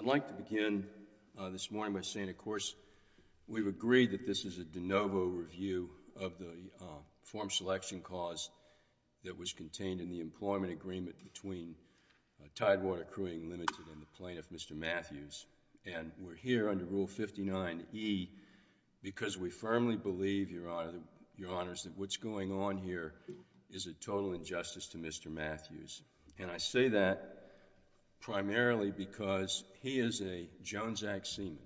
I'd like to begin this morning by saying, of course, we've agreed that this is a de novo review of the form selection cause that was contained in the employment agreement between Tidewater Crewing Ltd. and the plaintiff, Mr. Matthews, and we're here under Rule 59E because we firmly believe, Your Honors, that what's going on here is a total injustice to Mr. Matthews, and I say that primarily because he is a Jones Act seaman.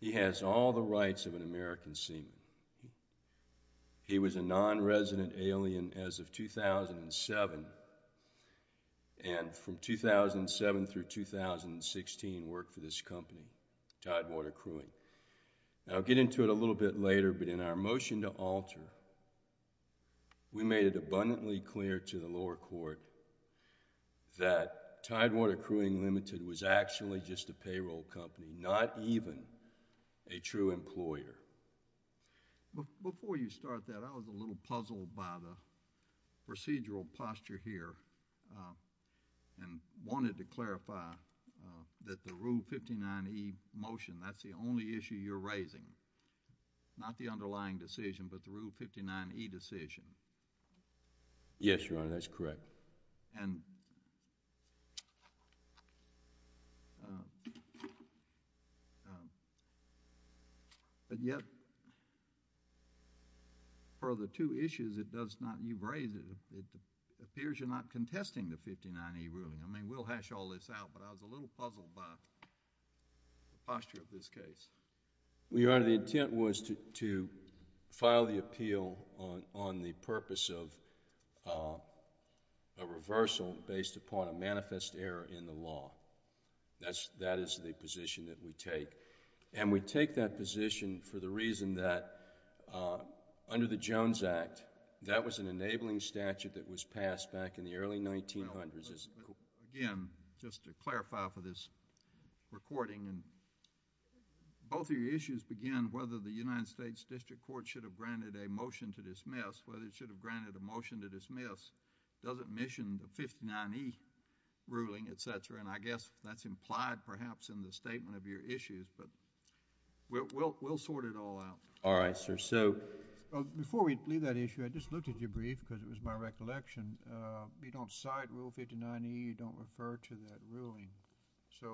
He has all the rights of an American seaman. He was a non-resident alien as of 2007, and from 2007 through 2016 worked for this company, Tidewater Crewing. I'll get into it a little bit later, but in our motion to alter, we made it abundantly clear to the lower court that Tidewater Crewing Ltd. was actually just a payroll company, not even a true employer. Before you start that, I was a little puzzled by the procedural posture here and wanted to clarify that the Rule 59E motion, that's the only issue you're raising, not the underlying decision, but the Rule 59E decision. Yes, Your Honor, that's correct. But yet, for the two issues it does not... you've raised, it appears you're not contesting the 59E ruling. I mean, we'll hash all this out, but I was a little puzzled by the posture of this case. Well, Your Honor, the intent was to file the appeal on the purpose of a reversal based upon a manifest error in the law. That is the position that we take, and we take that position for the reason that under the Jones Act, that was an enabling statute that was passed back in the early 1900s. Again, just to clarify for this recording, both of your issues begin whether the United States District Court should have granted a motion to dismiss, whether it should have granted a motion to dismiss, does it mission the 59E ruling, etc., and I guess that's implied perhaps in the statement of your issues, but we'll sort it all out. All right, sir. So... Before we leave that issue, I just looked at your brief because it was my recollection. You don't cite Rule 59E. You don't refer to that ruling. So,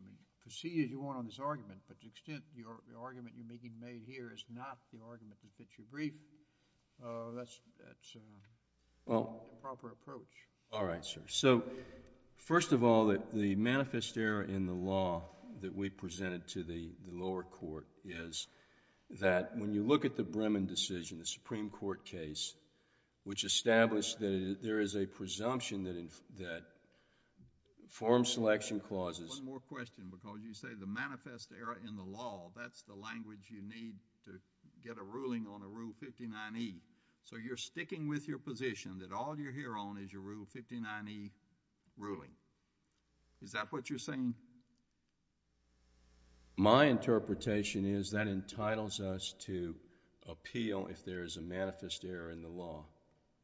I mean, proceed as you want on this argument, but to the extent the argument you're making made here is not the argument that fits your brief, that's not the proper approach. All right, sir. So first of all, the manifest error in the law that we presented to the lower court is that when you look at the Bremen decision, the Supreme Court case, which established that there is a presumption that form selection clauses... One more question because you say the manifest error in the law, that's the language you need to get a ruling on a Rule 59E. So you're sticking with your position that all you're here on is your Rule 59E ruling. Is that what you're saying? My interpretation is that entitles us to appeal if there is a manifest error in the law.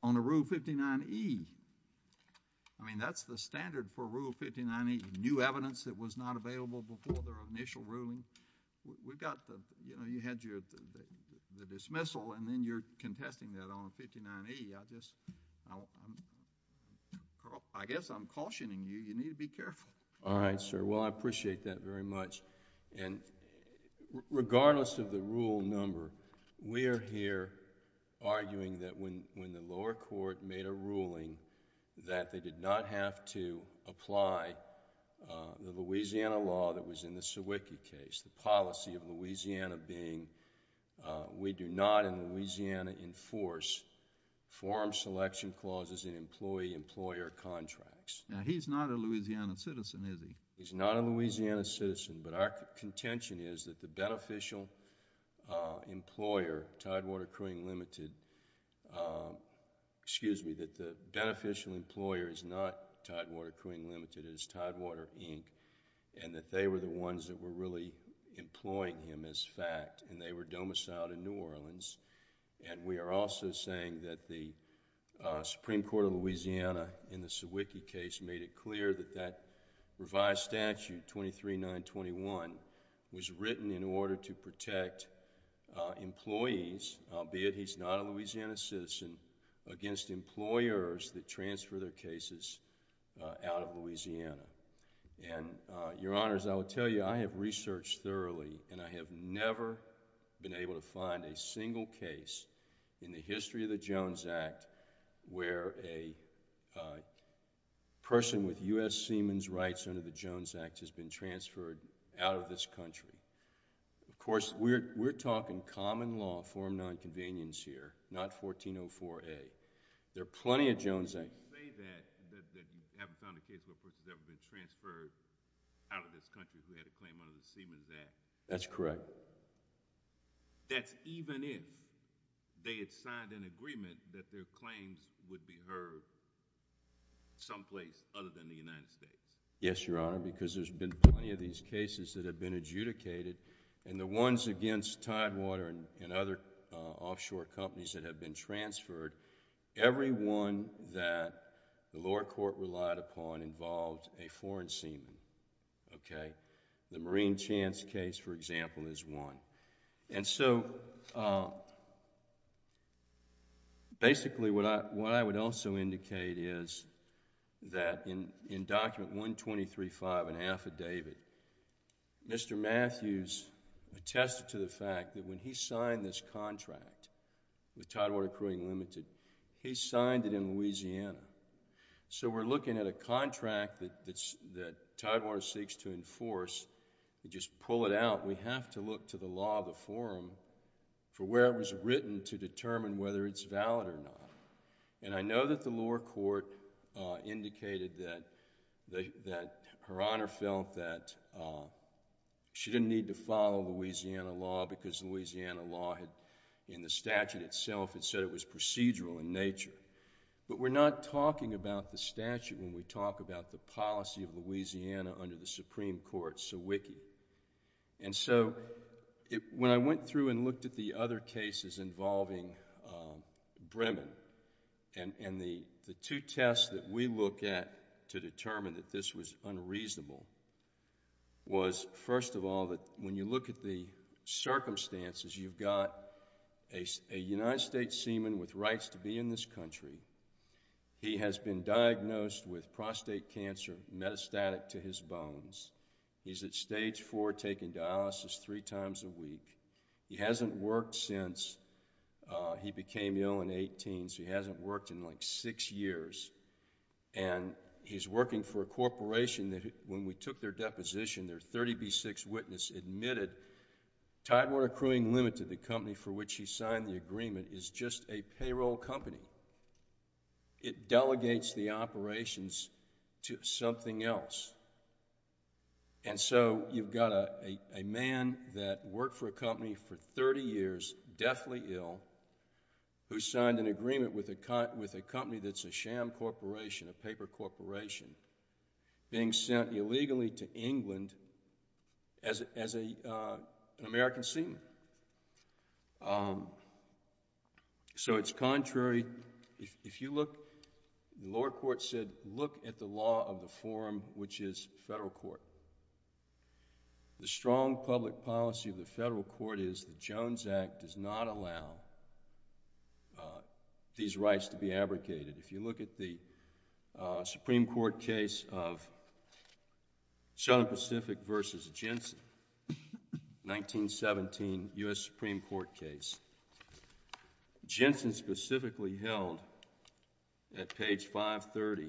On a Rule 59E? I mean, that's the standard for Rule 59E, new evidence that was not available before their initial ruling. We've got the... you know, you had your... the dismissal and then you're contesting that on a 59E. I just... I guess I'm cautioning you. You need to be careful. All right, sir. Well, I appreciate that very much and regardless of the rule number, we are here arguing that when the lower court made a ruling that they did not have to apply the Louisiana law that was in the Sawicki case, the policy of Louisiana being we do not in Louisiana enforce form selection clauses in employee-employer contracts. Now, he's not a Louisiana citizen, is he? He's not a Louisiana citizen, but our contention is that the beneficial employer, Tidewater Crewing Limited, excuse me, that the beneficial employer is not Tidewater Crewing Limited. It is Tidewater, Inc. and that they were the ones that were really employing him as fact and they were domiciled in New Orleans. We are also saying that the Supreme Court of Louisiana in the Sawicki case made it clear that that revised statute 23-921 was written in order to protect employees, albeit he's not a Louisiana citizen, against employers that transfer their cases out of Louisiana. Your Honors, I will tell you I have researched thoroughly and I have never been able to find a single case in the history of the Jones Act where a person with U.S. Seaman's rights under the Jones Act has been transferred out of this country. Of course, we're talking common law, Form 9 Convenience here, not 1404A. There are plenty of Jones Act... You say that you haven't found a case where a person has ever been transferred out of this country who had a claim under the Seaman's Act. That's even more than the Seaman's Act. Even if they had signed an agreement that their claims would be heard someplace other than the United States. Yes, Your Honor, because there's been plenty of these cases that have been adjudicated and the ones against Tidewater and other offshore companies that have been transferred, every one that the lower court relied upon involved a foreign seaman, okay? The Marine Chance case, for example, is one. Basically, what I would also indicate is that in Document 123.5, an affidavit, Mr. Matthews attested to the fact that when he signed this contract with Tidewater Crewing Ltd., he signed it in Louisiana. So, we're looking at a contract that Tidewater seeks to enforce and just pull it out. We have to look to the law of the forum for where it was written to determine whether it's valid or not. And I know that the lower court indicated that Her Honor felt that she didn't need to follow Louisiana law because Louisiana law in the statute itself, it said it was procedural in nature. But we're not talking about the statute when we talk about the policy of Louisiana under the Supreme Court, Sawicki. And so, when I went through and looked at the other cases involving Bremen and the two tests that we look at to determine that this was unreasonable was, first of all, that when you look at the circumstances, you've got a United States seaman with rights to be in this country. He has been diagnosed with prostate cancer, metastatic to his bones. He's at stage four taking dialysis three times a week. He hasn't worked since he became ill in 18, so he hasn't worked in like six years. And he's working for a corporation that when we took their deposition, their 30B6 witness admitted Tidewater Crewing Ltd., the company for which he signed the agreement, is just a payroll company. It delegates the operations to something else. And so, you've got a man that worked for a company for 30 years, deathly ill, who signed an agreement with a company that's a sham corporation, a paper corporation, being sent So it's contrary, if you look, the lower court said, look at the law of the forum, which is federal court. The strong public policy of the federal court is the Jones Act does not allow these rights to be abrogated. If you look at the Supreme Court case of Southern Pacific versus Jensen, 1917, U.S. Supreme Court case, Jensen specifically held at page 530,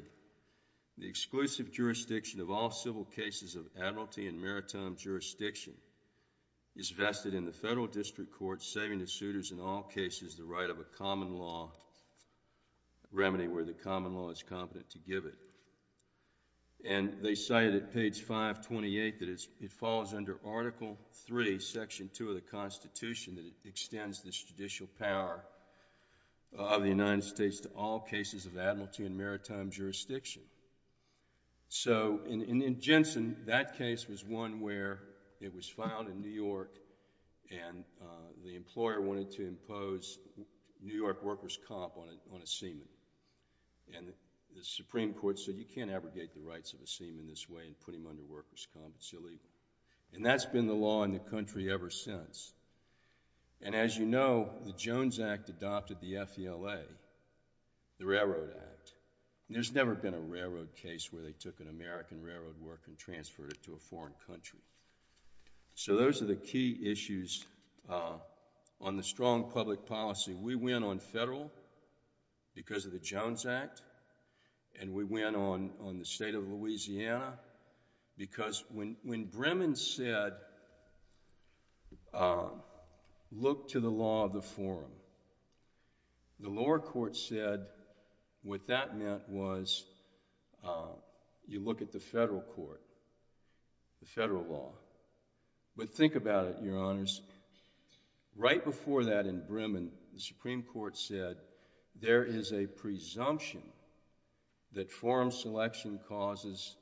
the exclusive jurisdiction of all civil cases of admiralty and maritime jurisdiction is vested in the federal district court saving the suitors in all cases the right of a common law remedy where the common law is competent to give it. And they cited at page 528 that it follows under Article III, Section 2 of the Constitution that it extends this judicial power of the United States to all cases of admiralty and maritime jurisdiction. So in Jensen, that case was one where it was found in New York and the employer wanted to impose New York workers' comp on a seaman. And the Supreme Court said, you can't abrogate the rights of a seaman this way and put him under workers' comp. It's illegal. And that's been the law in the country ever since. And as you know, the Jones Act adopted the FELA, the Railroad Act. There's never been a railroad case where they took an American railroad worker and transferred it to a foreign country. So those are the key issues on the strong public policy. We win on federal because of the Jones Act and we win on the state of Louisiana because when Bremen said, look to the law of the forum, the lower court said what that meant was you look at the federal court, the federal law. But think about it, Your Honors. Right before that in Bremen, the Supreme Court said there is a presumption that forum selection clauses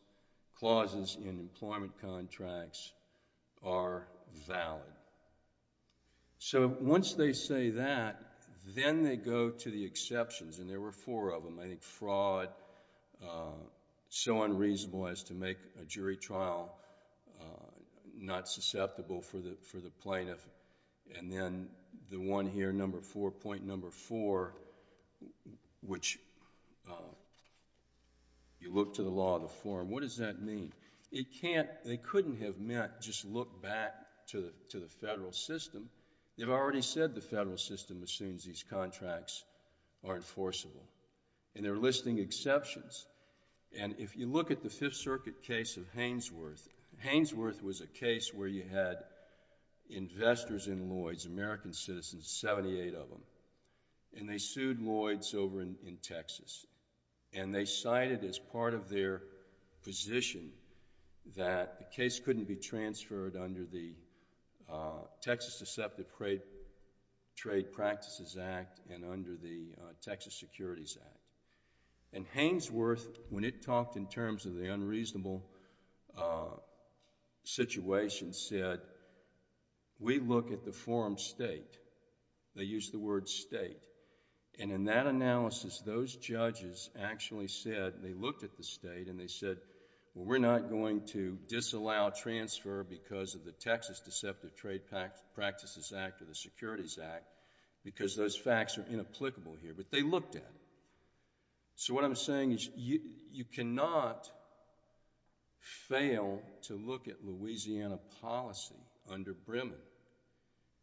in employment contracts are valid. So once they say that, then they go to the exceptions and there were four of them. I think fraud, so unreasonable as to make a jury trial not susceptible for the plaintiff. And then the one here, number four, point number four, which you look to the law of the forum. What does that mean? It can't, they couldn't have meant just look back to the federal system. They've already said the federal system assumes these contracts are enforceable and they're listing exceptions. And if you look at the Fifth Circuit case of Haynesworth, Haynesworth was a case where you had investors in Lloyds, American citizens, 78 of them, and they sued Lloyds over in Texas. And they cited as part of their position that the case couldn't be transferred under the Texas Deceptive Trade Practices Act and under the Texas Securities Act. And Haynesworth, when it talked in terms of the unreasonable situation, said, we look at the forum state, they used the word state, and in that analysis, those judges actually said, they looked at the state and they said, we're not going to disallow transfer because of the Texas Deceptive Trade Practices Act or the Securities Act because those facts are inapplicable here, but they looked at it. So what I'm saying is you cannot fail to look at Louisiana policy under Bremen.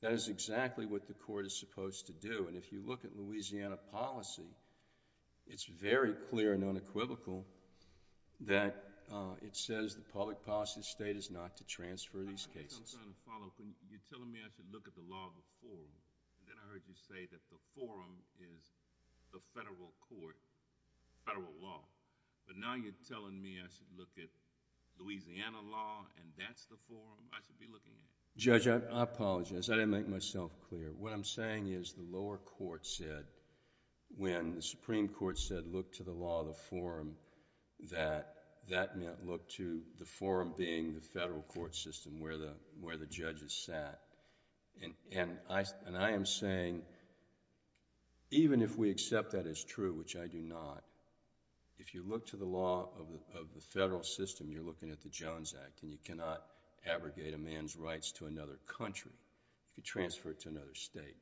That is exactly what the court is supposed to do. And if you look at Louisiana policy, it's very clear and unequivocal that it says the public policy of the state is not to transfer these cases. I'm trying to follow. You're telling me I should look at the law before, and then I heard you say that the forum is the federal court, federal law. But now you're telling me I should look at Louisiana law and that's the forum I should be looking at? Judge, I apologize. I didn't make myself clear. What I'm saying is the lower court said, when the Supreme Court said, look to the law, the lower court said, look to the law, the lower court said, look to the law, and that's where the judges sat. I am saying, even if we accept that as true, which I do not, if you look to the law of the federal system, you're looking at the Jones Act and you cannot abrogate a man's rights to another country, you could transfer it to another state.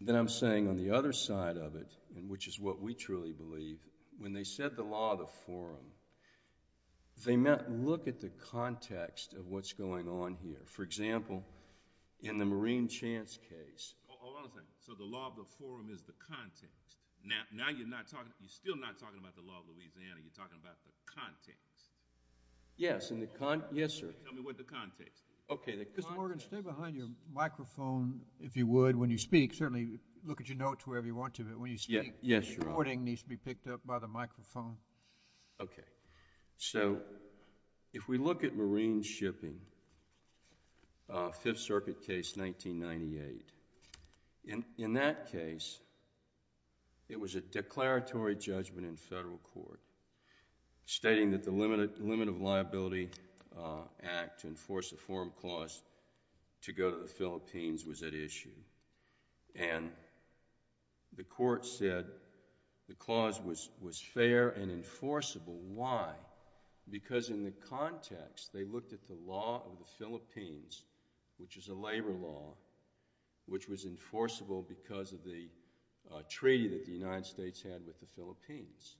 Then I'm saying on the other side of it, which is what we truly believe, when they said the law of the forum, they meant look at the context of what's going on here. For example, in the Marine Chance case... Hold on a second. So the law of the forum is the context. Now, you're still not talking about the law of Louisiana. You're talking about the context. Yes. Yes, sir. Tell me what the context is. Okay. Mr. Morgan, stay behind your microphone, if you would, when you speak. Certainly, look at your notes wherever you want to, but when you speak... Yes, Your Honor.... the recording needs to be picked up by the microphone. Okay. So if we look at Marine shipping, Fifth Circuit case 1998, in that case, it was a declaratory judgment in federal court stating that the Limit of Liability Act to enforce a forum clause to go to the Philippines was at issue. And the court said the clause was fair and enforceable. Why? Because in the context, they looked at the law of the Philippines, which is a labor law, which was enforceable because of the treaty that the United States had with the Philippines.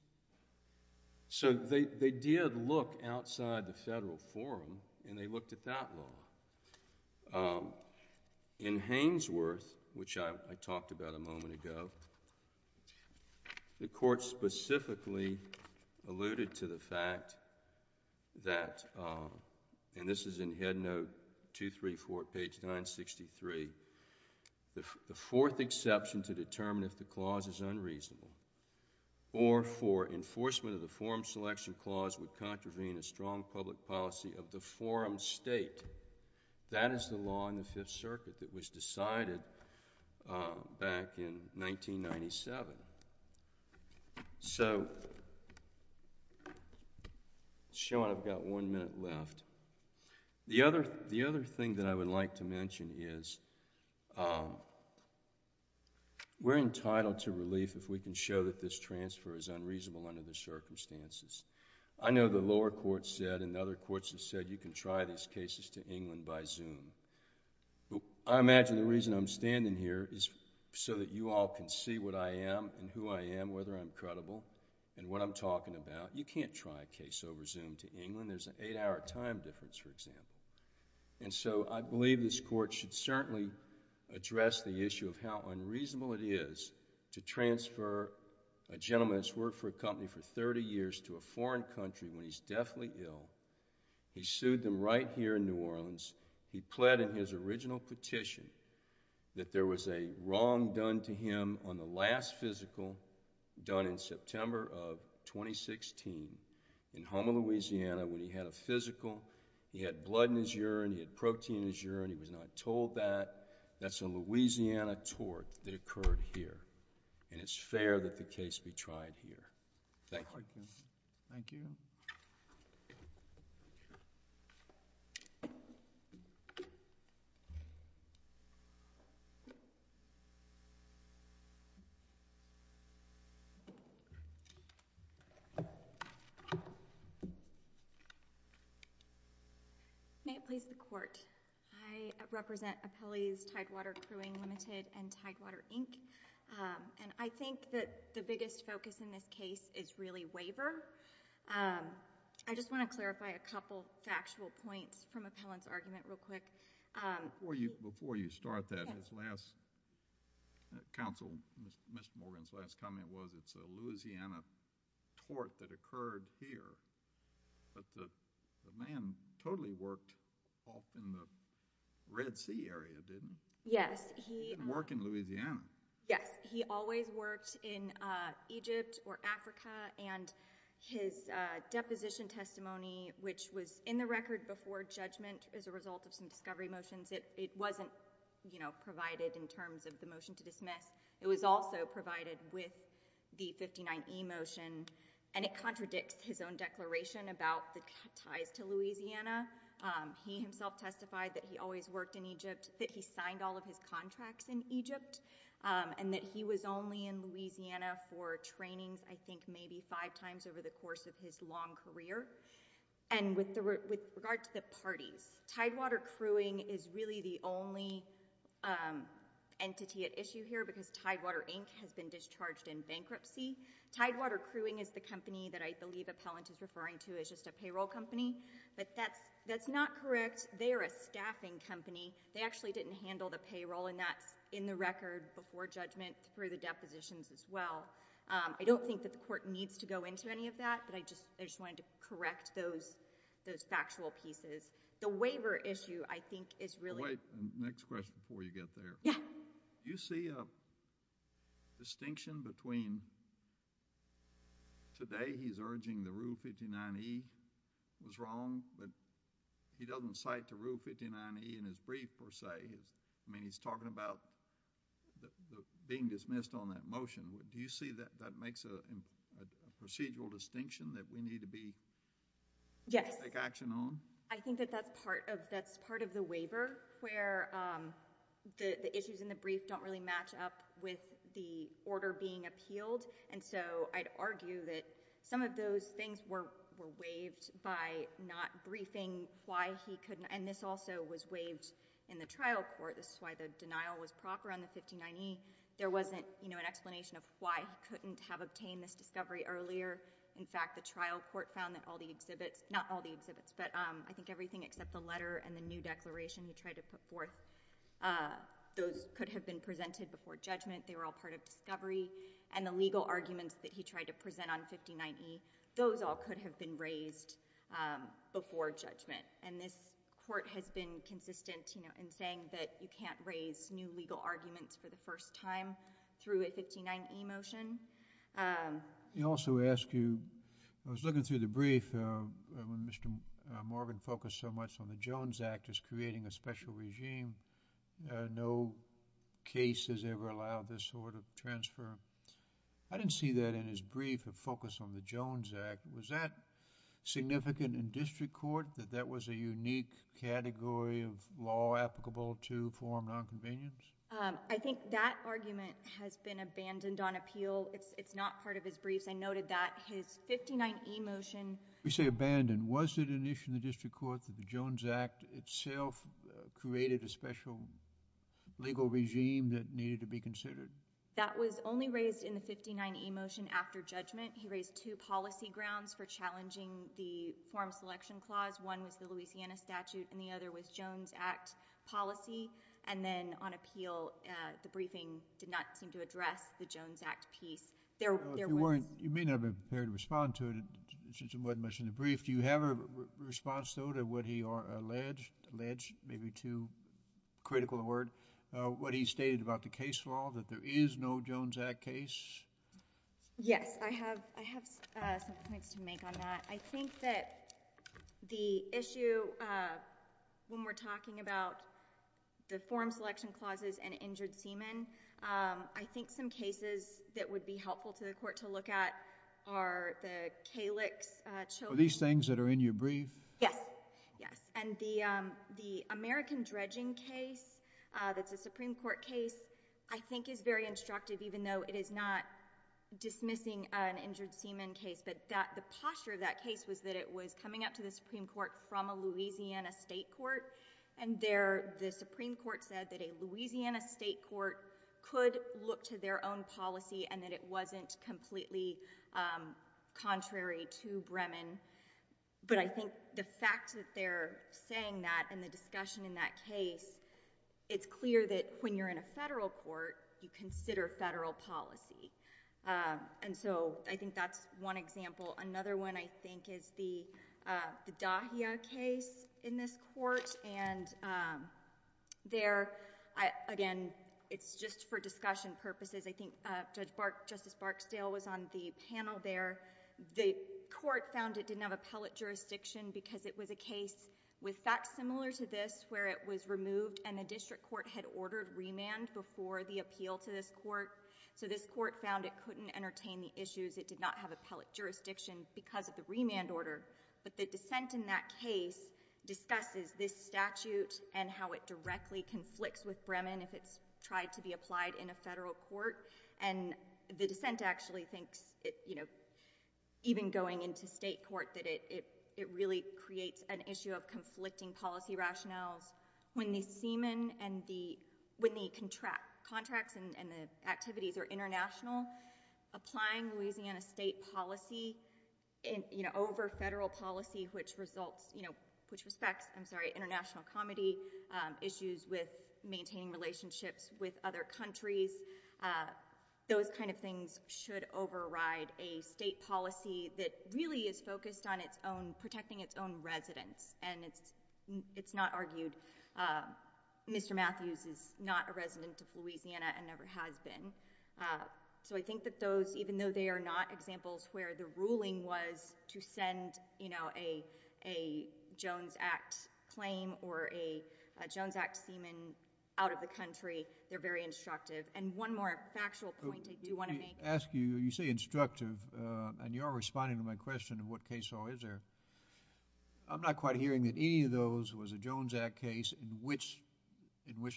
So they did look outside the federal forum, and they looked at that law. In Hainesworth, which I talked about a moment ago, the court specifically alluded to the fact that, and this is in Head Note 234, page 963, the fourth exception to determine if the clause is unreasonable or for enforcement of the forum selection clause would contravene the strong public policy of the forum state. That is the law in the Fifth Circuit that was decided back in 1997. So Sean, I've got one minute left. The other thing that I would like to mention is we're entitled to relief if we can show that this transfer is unreasonable under the circumstances. I know the lower court said, and other courts have said, you can try these cases to England by Zoom. I imagine the reason I'm standing here is so that you all can see what I am and who I am, whether I'm credible and what I'm talking about. You can't try a case over Zoom to England. There's an eight-hour time difference, for example. And so, I believe this court should certainly address the issue of how unreasonable it is to transfer a gentleman that's worked for a company for thirty years to a foreign country when he's deathly ill. He sued them right here in New Orleans. He pled in his original petition that there was a wrong done to him on the last physical done in September of 2016 in Houma, Louisiana, when he had a physical. He had blood in his urine. He had protein in his urine. He was not told that. That's a Louisiana tort that occurred here, and it's fair that the case be tried here. Thank you. Thank you. May it please the Court, I represent Appellee's Tidewater Crewing Limited and Tidewater, Inc. And I think that the biggest focus in this case is really waiver. I just want to clarify a couple factual points from Appellant's argument real quick. Before you start that, his last... Counsel, Mr. Morgan's last comment was it's a Louisiana tort that occurred here, but the man totally worked off in the Red Sea area, didn't he? Yes, he... He worked in Louisiana. Yes, he always worked in Egypt or Africa, and his deposition testimony, which was in the record before judgment as a result of some discovery motions, it wasn't, you know, provided in terms of the motion to dismiss. It was also provided with the 59E motion, and it contradicts his own declaration about the ties to Louisiana. He himself testified that he always worked in Egypt, that he signed all of his contracts in Egypt, and that he was only in Louisiana for trainings, I think, maybe five times over the course of his long career. And with regard to the parties, Tidewater Crewing is really the only entity at issue here because Tidewater, Inc. has been discharged in bankruptcy. Tidewater Crewing is the company that I believe Appellant is referring to as just a payroll company, but that's not correct. They are a staffing company. They actually didn't handle the payroll, and that's in the record before judgment through the depositions as well. I don't think that the court needs to go into any of that, but I just wanted to correct those factual pieces. The waiver issue, I think, is really... Wait. Next question before you get there. Yeah. Do you see a distinction between today he's urging the Rule 59E was wrong, but he doesn't cite the Rule 59E in his brief, per se. I mean, he's talking about being dismissed on that motion. Do you see that that makes a procedural distinction that we need to be... Yes.... to take action on? I think that that's part of the waiver, where the issues in the brief don't really match up with the order being appealed, and so I'd argue that some of those things were waived by not briefing why he couldn't... and this also was waived in the trial court. This is why the denial was proper on the 59E. There wasn't an explanation of why he couldn't have obtained this discovery earlier. In fact, the trial court found that all the exhibits... not all the exhibits, but I think everything except the letter and the new declaration he tried to put forth, those could have been presented before judgment. They were all part of discovery, and the legal arguments that he tried to present on 59E, those all could have been raised before judgment, and this court has been consistent in saying that you can't raise new legal arguments for the first time through a 59E motion. You also ask you... I was looking through the brief when Mr. Morgan focused so much on the Jones Act as creating a special regime. No case has ever allowed this sort of transfer. I didn't see that in his brief of focus on the Jones Act. Was that significant in district court, that that was a unique category of law applicable to form nonconvenience? I think that argument has been abandoned on appeal. It's not part of his briefs. I noted that his 59E motion... You say abandoned. Was it an issue in the district court that the Jones Act itself created a special legal regime that needed to be considered? That was only raised in the 59E motion after judgment. He raised two policy grounds for challenging the form selection clause. One was the Louisiana statute, and the other was Jones Act policy. And then on appeal, the briefing did not seem to address the Jones Act piece. There was... You may not have been prepared to respond to it since it wasn't mentioned in the brief. Do you have a response, though, to what he alleged, alleged, maybe too critical a word, what he stated about the case law, that there is no Jones Act case? Yes. I have some points to make on that. I think that the issue when we're talking about the form selection clauses and injured semen, I think some cases that would be helpful to the court to look at are the Calix... Are these things that are in your brief? Yes. Yes. And the American dredging case that's a Supreme Court case, I think is very instructive even though it is not dismissing an injured semen case, but the posture of that case was that it was coming up to the Supreme Court from a Louisiana state court. And there, the Supreme Court said that a Louisiana state court could look to their own policy and that it wasn't completely contrary to Bremen. But I think the fact that they're saying that and the discussion in that case, it's clear that when you're in a federal court, you consider federal policy. And so, I think that's one example. Another one, I think, is the Dahia case in this court. And there, again, it's just for discussion purposes. I think Justice Barksdale was on the panel there. The court found it didn't have appellate jurisdiction because it was a case with facts similar to this where it was removed and the district court had ordered remand before the appeal to this court. So, this court found it couldn't entertain the issues. It did not have appellate jurisdiction because of the remand order. But the dissent in that case discusses this statute and how it directly conflicts with Bremen if it's tried to be applied in a federal court. And the dissent actually thinks, you know, even going into state court, that it really creates an issue of conflicting policy rationales. When the contracts and the activities are international, applying Louisiana state policy over federal policy, which respects international comity, issues with maintaining relationships with other countries, those kind of things should override a state policy that really is focused on protecting its own residents. And it's not argued Mr. Matthews is not a resident of Louisiana and never has been. So, I think that those, even though they are not examples where the ruling was to send, you know, a Jones Act claim or a Jones Act semen out of the country, they're very instructive. And one more factual point I do want to make... When I ask you, you say instructive, and you are responding to my question of what case law is there, I'm not quite hearing that any of those was a Jones Act case in which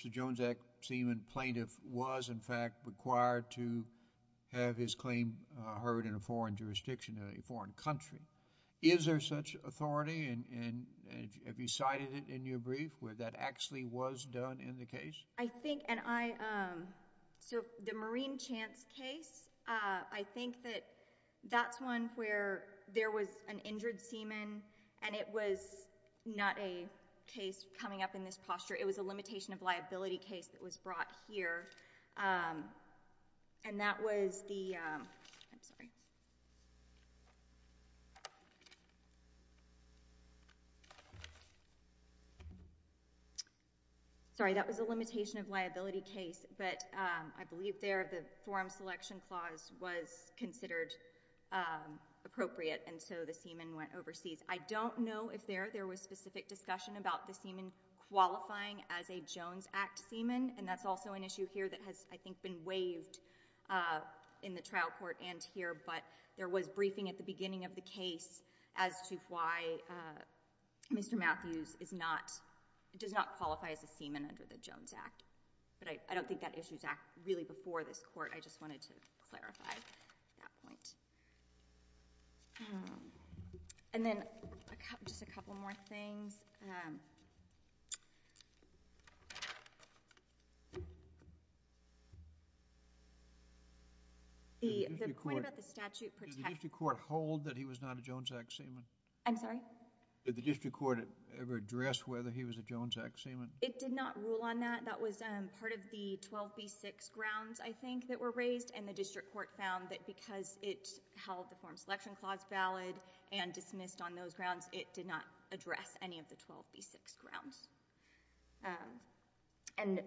the Jones Act semen plaintiff was, in fact, required to have his claim heard in a foreign jurisdiction, a foreign country. Is there such authority? And have you cited it in your brief where that actually was done in the case? I think... And I... So, the Marine Chance case, I think that that's one where there was an injured semen and it was not a case coming up in this posture. It was a limitation of liability case that was brought here. And that was the... I'm sorry. Sorry, that was a limitation of liability case, but I believe there the forum selection clause was considered appropriate and so the semen went overseas. I don't know if there was specific discussion about the semen qualifying as a Jones Act semen, and that's also an issue here that has, I think, been waived in the trial court and here, but there was briefing at the beginning of the case as to why Mr. Matthews is not... does not qualify as a semen under the Jones Act. But I don't think that issue is really before this court. I just wanted to clarify that point. And then, just a couple more things. The point about the statute protecting... Did the district court hold that he was not a Jones Act semen? I'm sorry? Did the district court ever address whether he was a Jones Act semen? It did not rule on that. That was part of the 12B6 grounds, I think, that were raised and the district court found that because it held the forum selection clause valid and dismissed on those grounds, it did not address any of the 12B6 grounds. And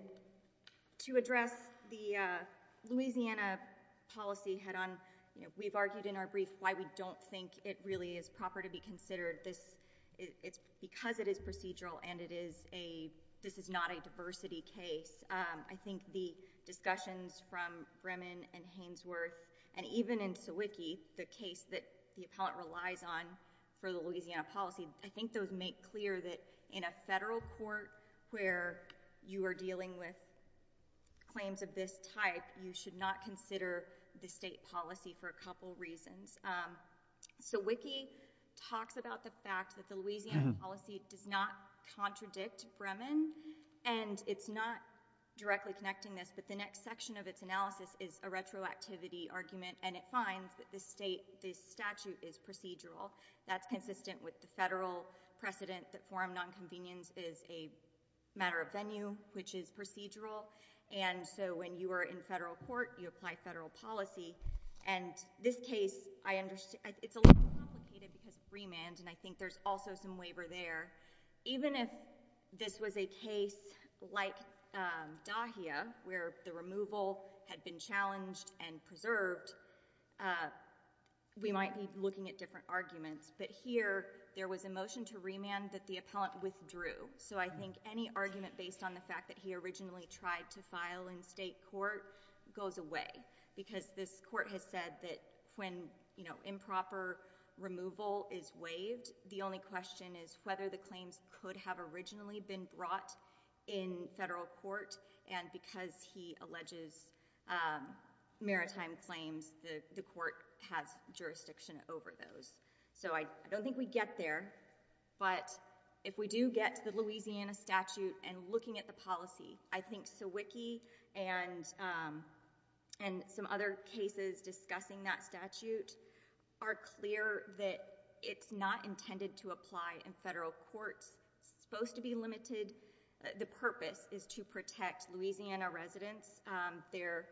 to address the Louisiana policy head-on, we've argued in our brief why we don't think it really is proper to be considered. It's because it is procedural and it is a... this is not a diversity case. I think the discussions from Bremen and Hainsworth and even in Sawicki, the case that the I think those make clear that in a federal court where you are dealing with claims of this type, you should not consider the state policy for a couple reasons. Sawicki talks about the fact that the Louisiana policy does not contradict Bremen, and it's not directly connecting this, but the next section of its analysis is a retroactivity argument, and it finds that this statute is procedural. That's consistent with the federal precedent that forum nonconvenience is a matter of venue, which is procedural, and so when you are in federal court, you apply federal policy, and this case, I understand... it's a little complicated because of Bremen, and I think there's also some waiver there. Even if this was a case like Dahia, where the removal had been challenged and preserved, we might be looking at different arguments, but here, there was a motion to remand that the appellant withdrew, so I think any argument based on the fact that he originally tried to file in state court goes away because this court has said that when improper removal is waived, the only question is whether the claims could have originally been brought in federal court, and because he alleges maritime claims, the court has jurisdiction over those, so I don't think we get there, but if we do get to the Louisiana statute and looking at the policy, I think Sawicki and some other cases discussing that statute are clear that it's not intended to apply in federal courts. It's supposed to be limited. The purpose is to protect Louisiana residents. There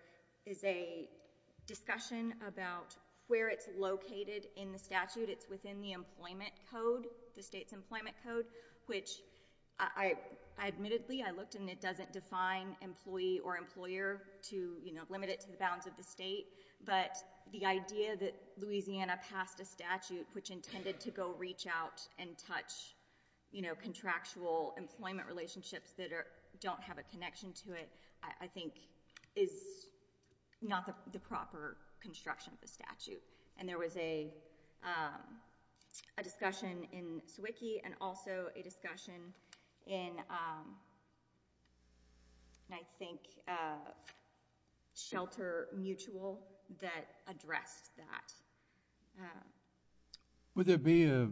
is a discussion about where it's located in the statute. It's within the employment code, the state's employment code, which I admittedly, I looked and it doesn't define employee or employer to limit it to the bounds of the state, but the idea that Louisiana passed a statute which intended to go reach out and touch contractual employment relationships that don't have a connection to it, I think, is not the proper construction of the statute, and there was a discussion in Sawicki and also a discussion in, I think, Shelter Mutual that addressed that. Would there be a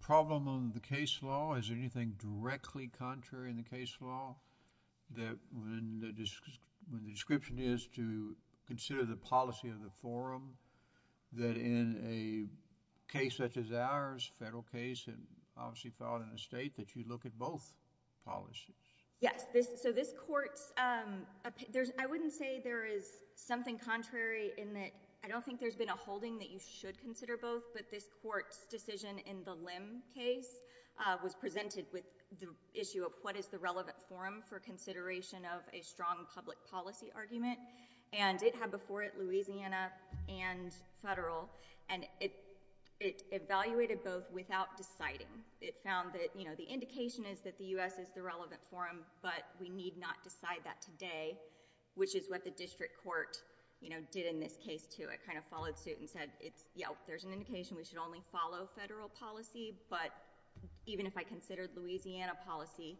problem on the case law? Is there anything directly contrary in the case law that when the description is to consider the policy of the forum that in a case such as ours, federal case, and obviously filed in the state, that you look at both policies? Yes. This court's... I wouldn't say there is something contrary in that I don't think there's been a holding that you should consider both, but this court's decision in the Lim case was presented with the issue of what is the relevant forum for consideration of a strong public policy argument, and it had before it Louisiana and federal, and it evaluated both without deciding. It found that the indication is that the U.S. is the relevant forum, but we need not decide that today, which is what the district court did in this case, too. It followed suit and said, there's an indication we should only follow federal policy, but even if I considered Louisiana policy,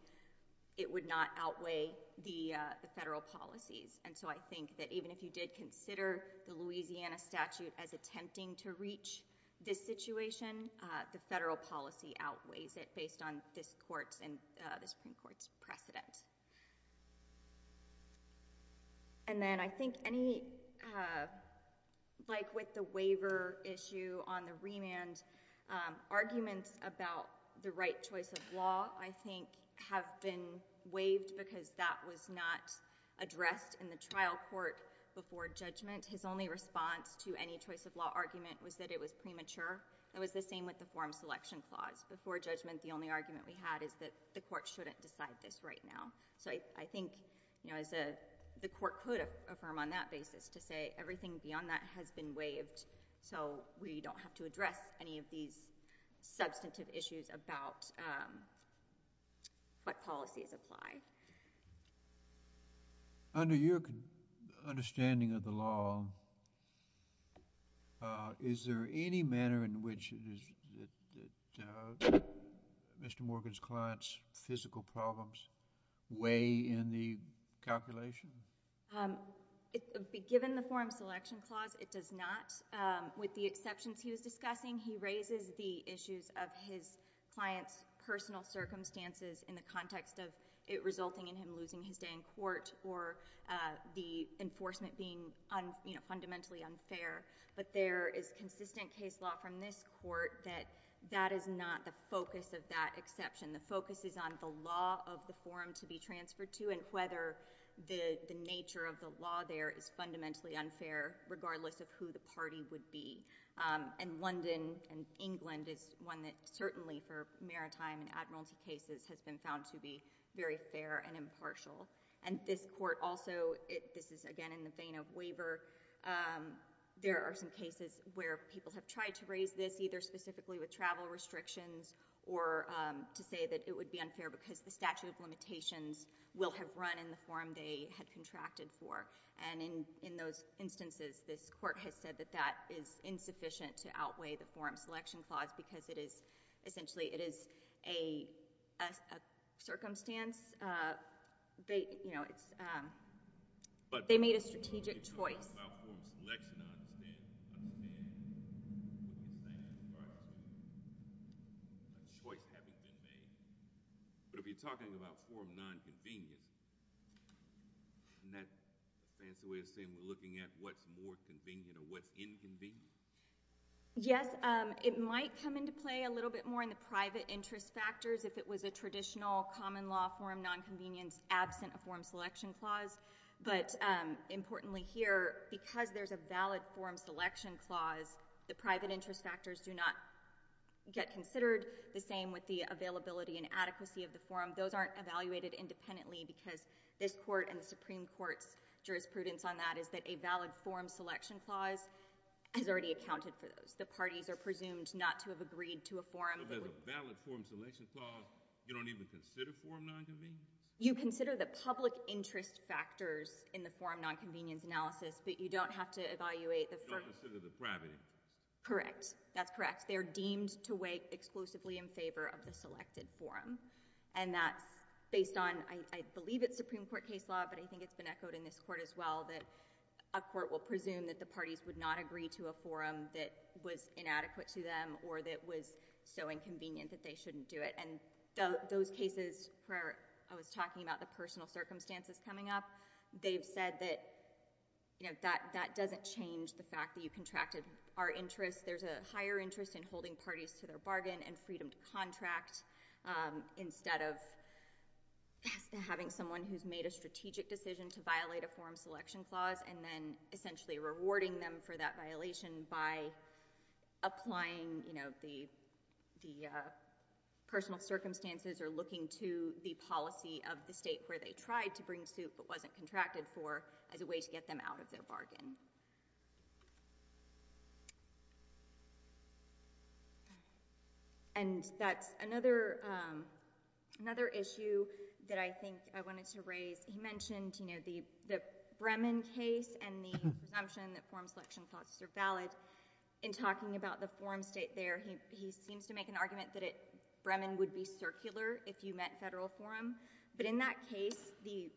it would not outweigh the federal policies. I think that even if you did consider the Louisiana statute as attempting to reach this situation, the federal policy outweighs it based on this court's and the Supreme Court's precedent. And then I think any... like with the waiver issue on the remand, arguments about the right choice of law, I think, have been waived because that was not addressed in the trial court before judgment. His only response to any choice of law argument was that it was premature. It was the same with the forum selection clause. Before judgment, the only argument we had is that the court shouldn't decide this right now. So I think the court could affirm on that basis to say everything beyond that has been waived, so we don't have to address any of these substantive issues about what policies apply. Under your understanding of the law, is there any manner in which Mr. Morgan's client's physical problems weigh in the calculation? Given the forum selection clause, it does not. With the exceptions he was discussing, he raises the issues of his client's personal circumstances in the context of it resulting in him losing his day in court or the enforcement being fundamentally unfair. But there is consistent case law from this court that that is not the focus of that exception. The focus is on the law of the forum to be transferred to and whether the nature of the law there is fundamentally unfair regardless of who the party would be. And London and England is one that certainly for maritime and admiralty cases has been found to be very fair and impartial. And this court also, this is again in the vein of waiver, there are some cases where people have tried to raise this either specifically with travel restrictions or to say that it would be unfair because the statute of limitations will have run in the forum they had contracted for. And in those instances, this court has said that that is insufficient to outweigh the forum selection clause because it is essentially, it is a circumstance. They, you know, it's... they made a strategic choice. But if you're talking about forum selection, I understand. I understand. Right. Choice having been made. But if you're talking about forum nonconvenience, isn't that a fancy way of saying we're looking at what's more convenient or what's inconvenient? Yes. It might come into play a little bit more in the private interest factors if it was a traditional common law forum nonconvenience absent a forum selection clause. But importantly here, because there's a valid forum selection clause, the private interest factors do not get considered. The same with the availability and adequacy of the forum. Those aren't evaluated independently because this court and the Supreme Court's jurisprudence on that is that a valid forum selection clause has already accounted for those. The parties are presumed not to have agreed to a forum... But with a valid forum selection clause, you don't even consider forum nonconvenience? You consider the public interest factors in the forum nonconvenience analysis, but you don't have to evaluate the... You don't consider the privacy. Correct. That's correct. They're deemed to weigh exclusively in favor of the selected forum. And that's based on, I believe it's Supreme Court case law, but I think it's been echoed in this court as well, that a court will presume that the parties would not agree to a forum that was inadequate to them or that was so inconvenient that they shouldn't do it. And those cases where I was talking about the personal circumstances coming up, they've doesn't change the fact that you contracted our interests. There's a higher interest in holding parties to their bargain and freedom to contract instead of having someone who's made a strategic decision to violate a forum selection clause and then essentially rewarding them for that violation by applying, you know, the personal circumstances or looking to the policy of the state where they tried to bring suit but wasn't contracted for as a way to get them out of their bargain. And that's another issue that I think I wanted to raise. You mentioned, you know, the Bremen case and the presumption that forum selection clauses are valid. In talking about the forum state there, he seems to make an argument that Bremen would be circular if you meant federal forum. But in that case, the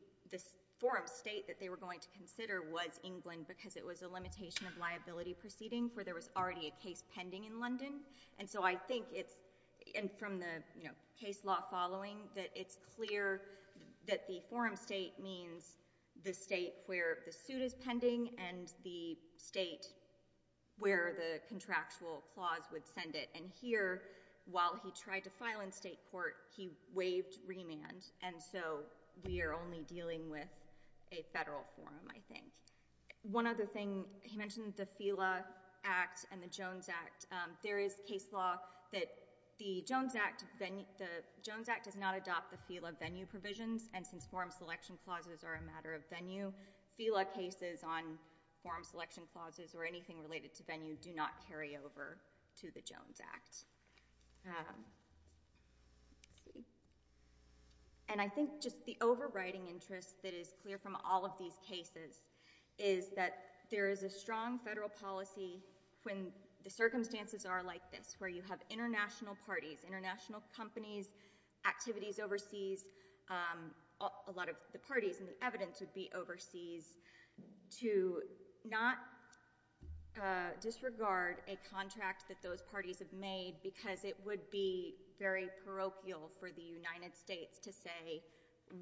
forum state that they were going to consider was England because it was a limitation of liability proceeding where there was already a case pending in London. And so I think it's, and from the, you know, case law following, that it's clear that the forum state means the state where the suit is pending and the state where the contractual clause would send it. And here, while he tried to file in state court, he waived remand. And so we are only dealing with a federal forum, I think. One other thing, he mentioned the FILA Act and the Jones Act. There is case law that the Jones Act, the Jones Act does not adopt the FILA venue provisions. And since forum selection clauses are a matter of venue, FILA cases on forum selection clauses or anything related to venue do not carry over to the Jones Act. Let's see. And I think just the overriding interest that is clear from all of these cases is that there is a strong federal policy when the circumstances are like this, where you have international parties, international companies, activities overseas. A lot of the parties and the evidence would be overseas to not disregard a contract that those parties have made because it would be very parochial for the United States to say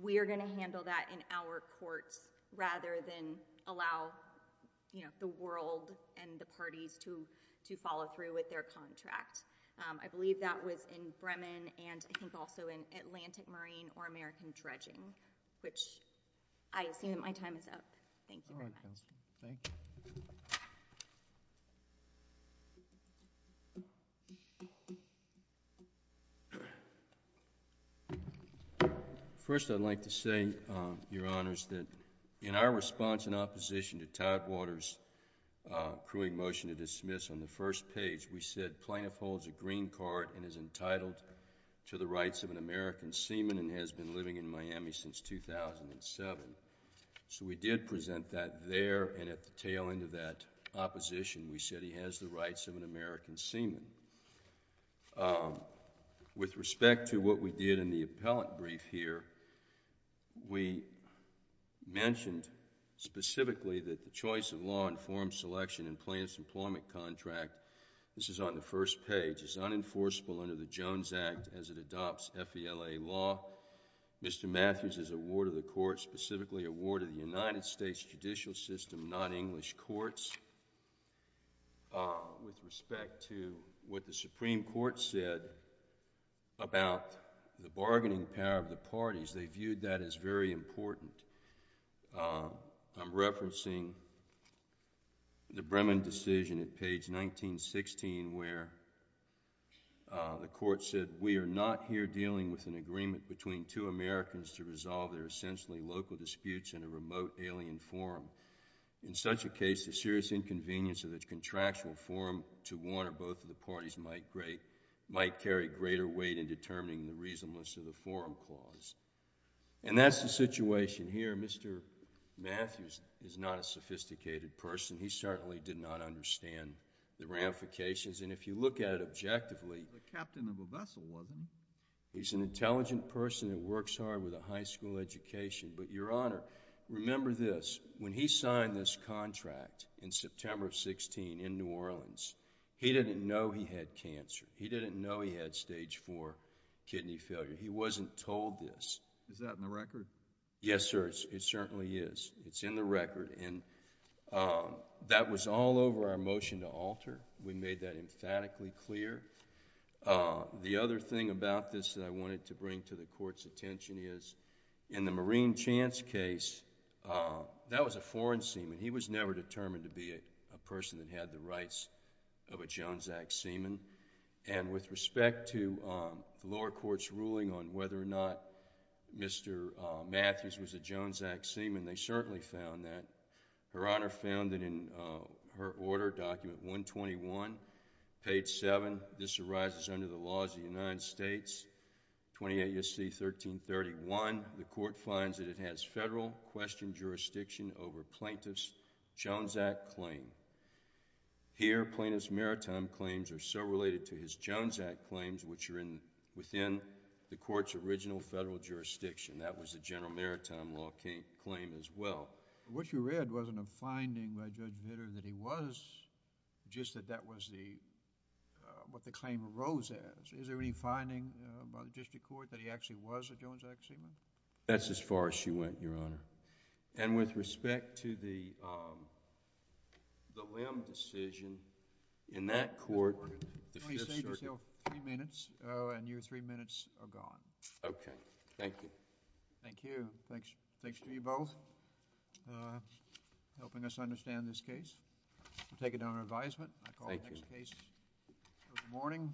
we are going to handle that in our courts rather than allow, you know, the world and the parties to follow through with their contract. I believe that was in Bremen and I think also in Atlantic Marine or American Dredging, which I assume that my time is up. Thank you for that. All right, Counselor. Thank you. First, I'd like to say, Your Honors, that in our response in opposition to Todd Waters' accruing motion to dismiss on the first page, we said plaintiff holds a green card and is entitled to the rights of an American seaman and has been living in Miami since 2007. So we did present that there and at the tail end of that opposition, we said he has the rights of an American seaman. With respect to what we did in the appellant brief here, we mentioned specifically that the choice of law informed selection in plaintiff's employment contract, this is on the first page, is unenforceable under the Jones Act as it adopts FELA law. Mr. Matthews is a ward of the court, specifically a ward of the United States judicial system, not English courts. With respect to what the Supreme Court said about the bargaining power of the parties, they viewed that as very important. I'm referencing the Bremen decision at page 1916 where the court said, We are not here dealing with an agreement between two Americans to resolve their essentially local disputes in a remote alien forum. In such a case, the serious inconvenience of its contractual forum to one or both of the parties might carry greater weight in determining the reasonableness of the forum clause. And that's the situation here. Mr. Matthews is not a sophisticated person. He certainly did not understand the ramifications. And if you look at it objectively, he's an intelligent person that works hard with a high school education. But, Your Honor, remember this. When he signed this contract in September of 16 in New Orleans, he didn't know he had cancer. He didn't know he had stage four kidney failure. He wasn't told this. Is that in the record? Yes, sir. It certainly is. It's in the record. And that was all over our motion to alter. We made that emphatically clear. The other thing about this that I wanted to bring to the court's attention is in the Marine Chance case, that was a foreign seaman. He was never determined to be a person that had the rights of a Jones Act seaman. And with respect to the lower court's ruling on whether or not Mr. Matthews was a Jones Act seaman, they certainly found that. Her Honor found that in her order, document 121, page 7, this arises under the laws of the United States, 28 U.S.C. 1331, the court finds that it has federal question jurisdiction over plaintiff's Jones Act claim. Here, plaintiff's maritime claims are so related to his Jones Act claims, which are within the court's original federal jurisdiction. That was a general maritime law claim as well. What you read wasn't a finding by Judge Vitter that he was, just that that was the, what the claim arose as. Is there any finding by the district court that he actually was a Jones Act seaman? That's as far as she went, Your Honor. And with respect to the, the Lim decision, in that court... Let me say just three minutes, and your three minutes are gone. Okay. Thank you. Thank you. Thanks to you both, helping us understand this case. We'll take it down to advisement. Thank you. I call the next case of the morning.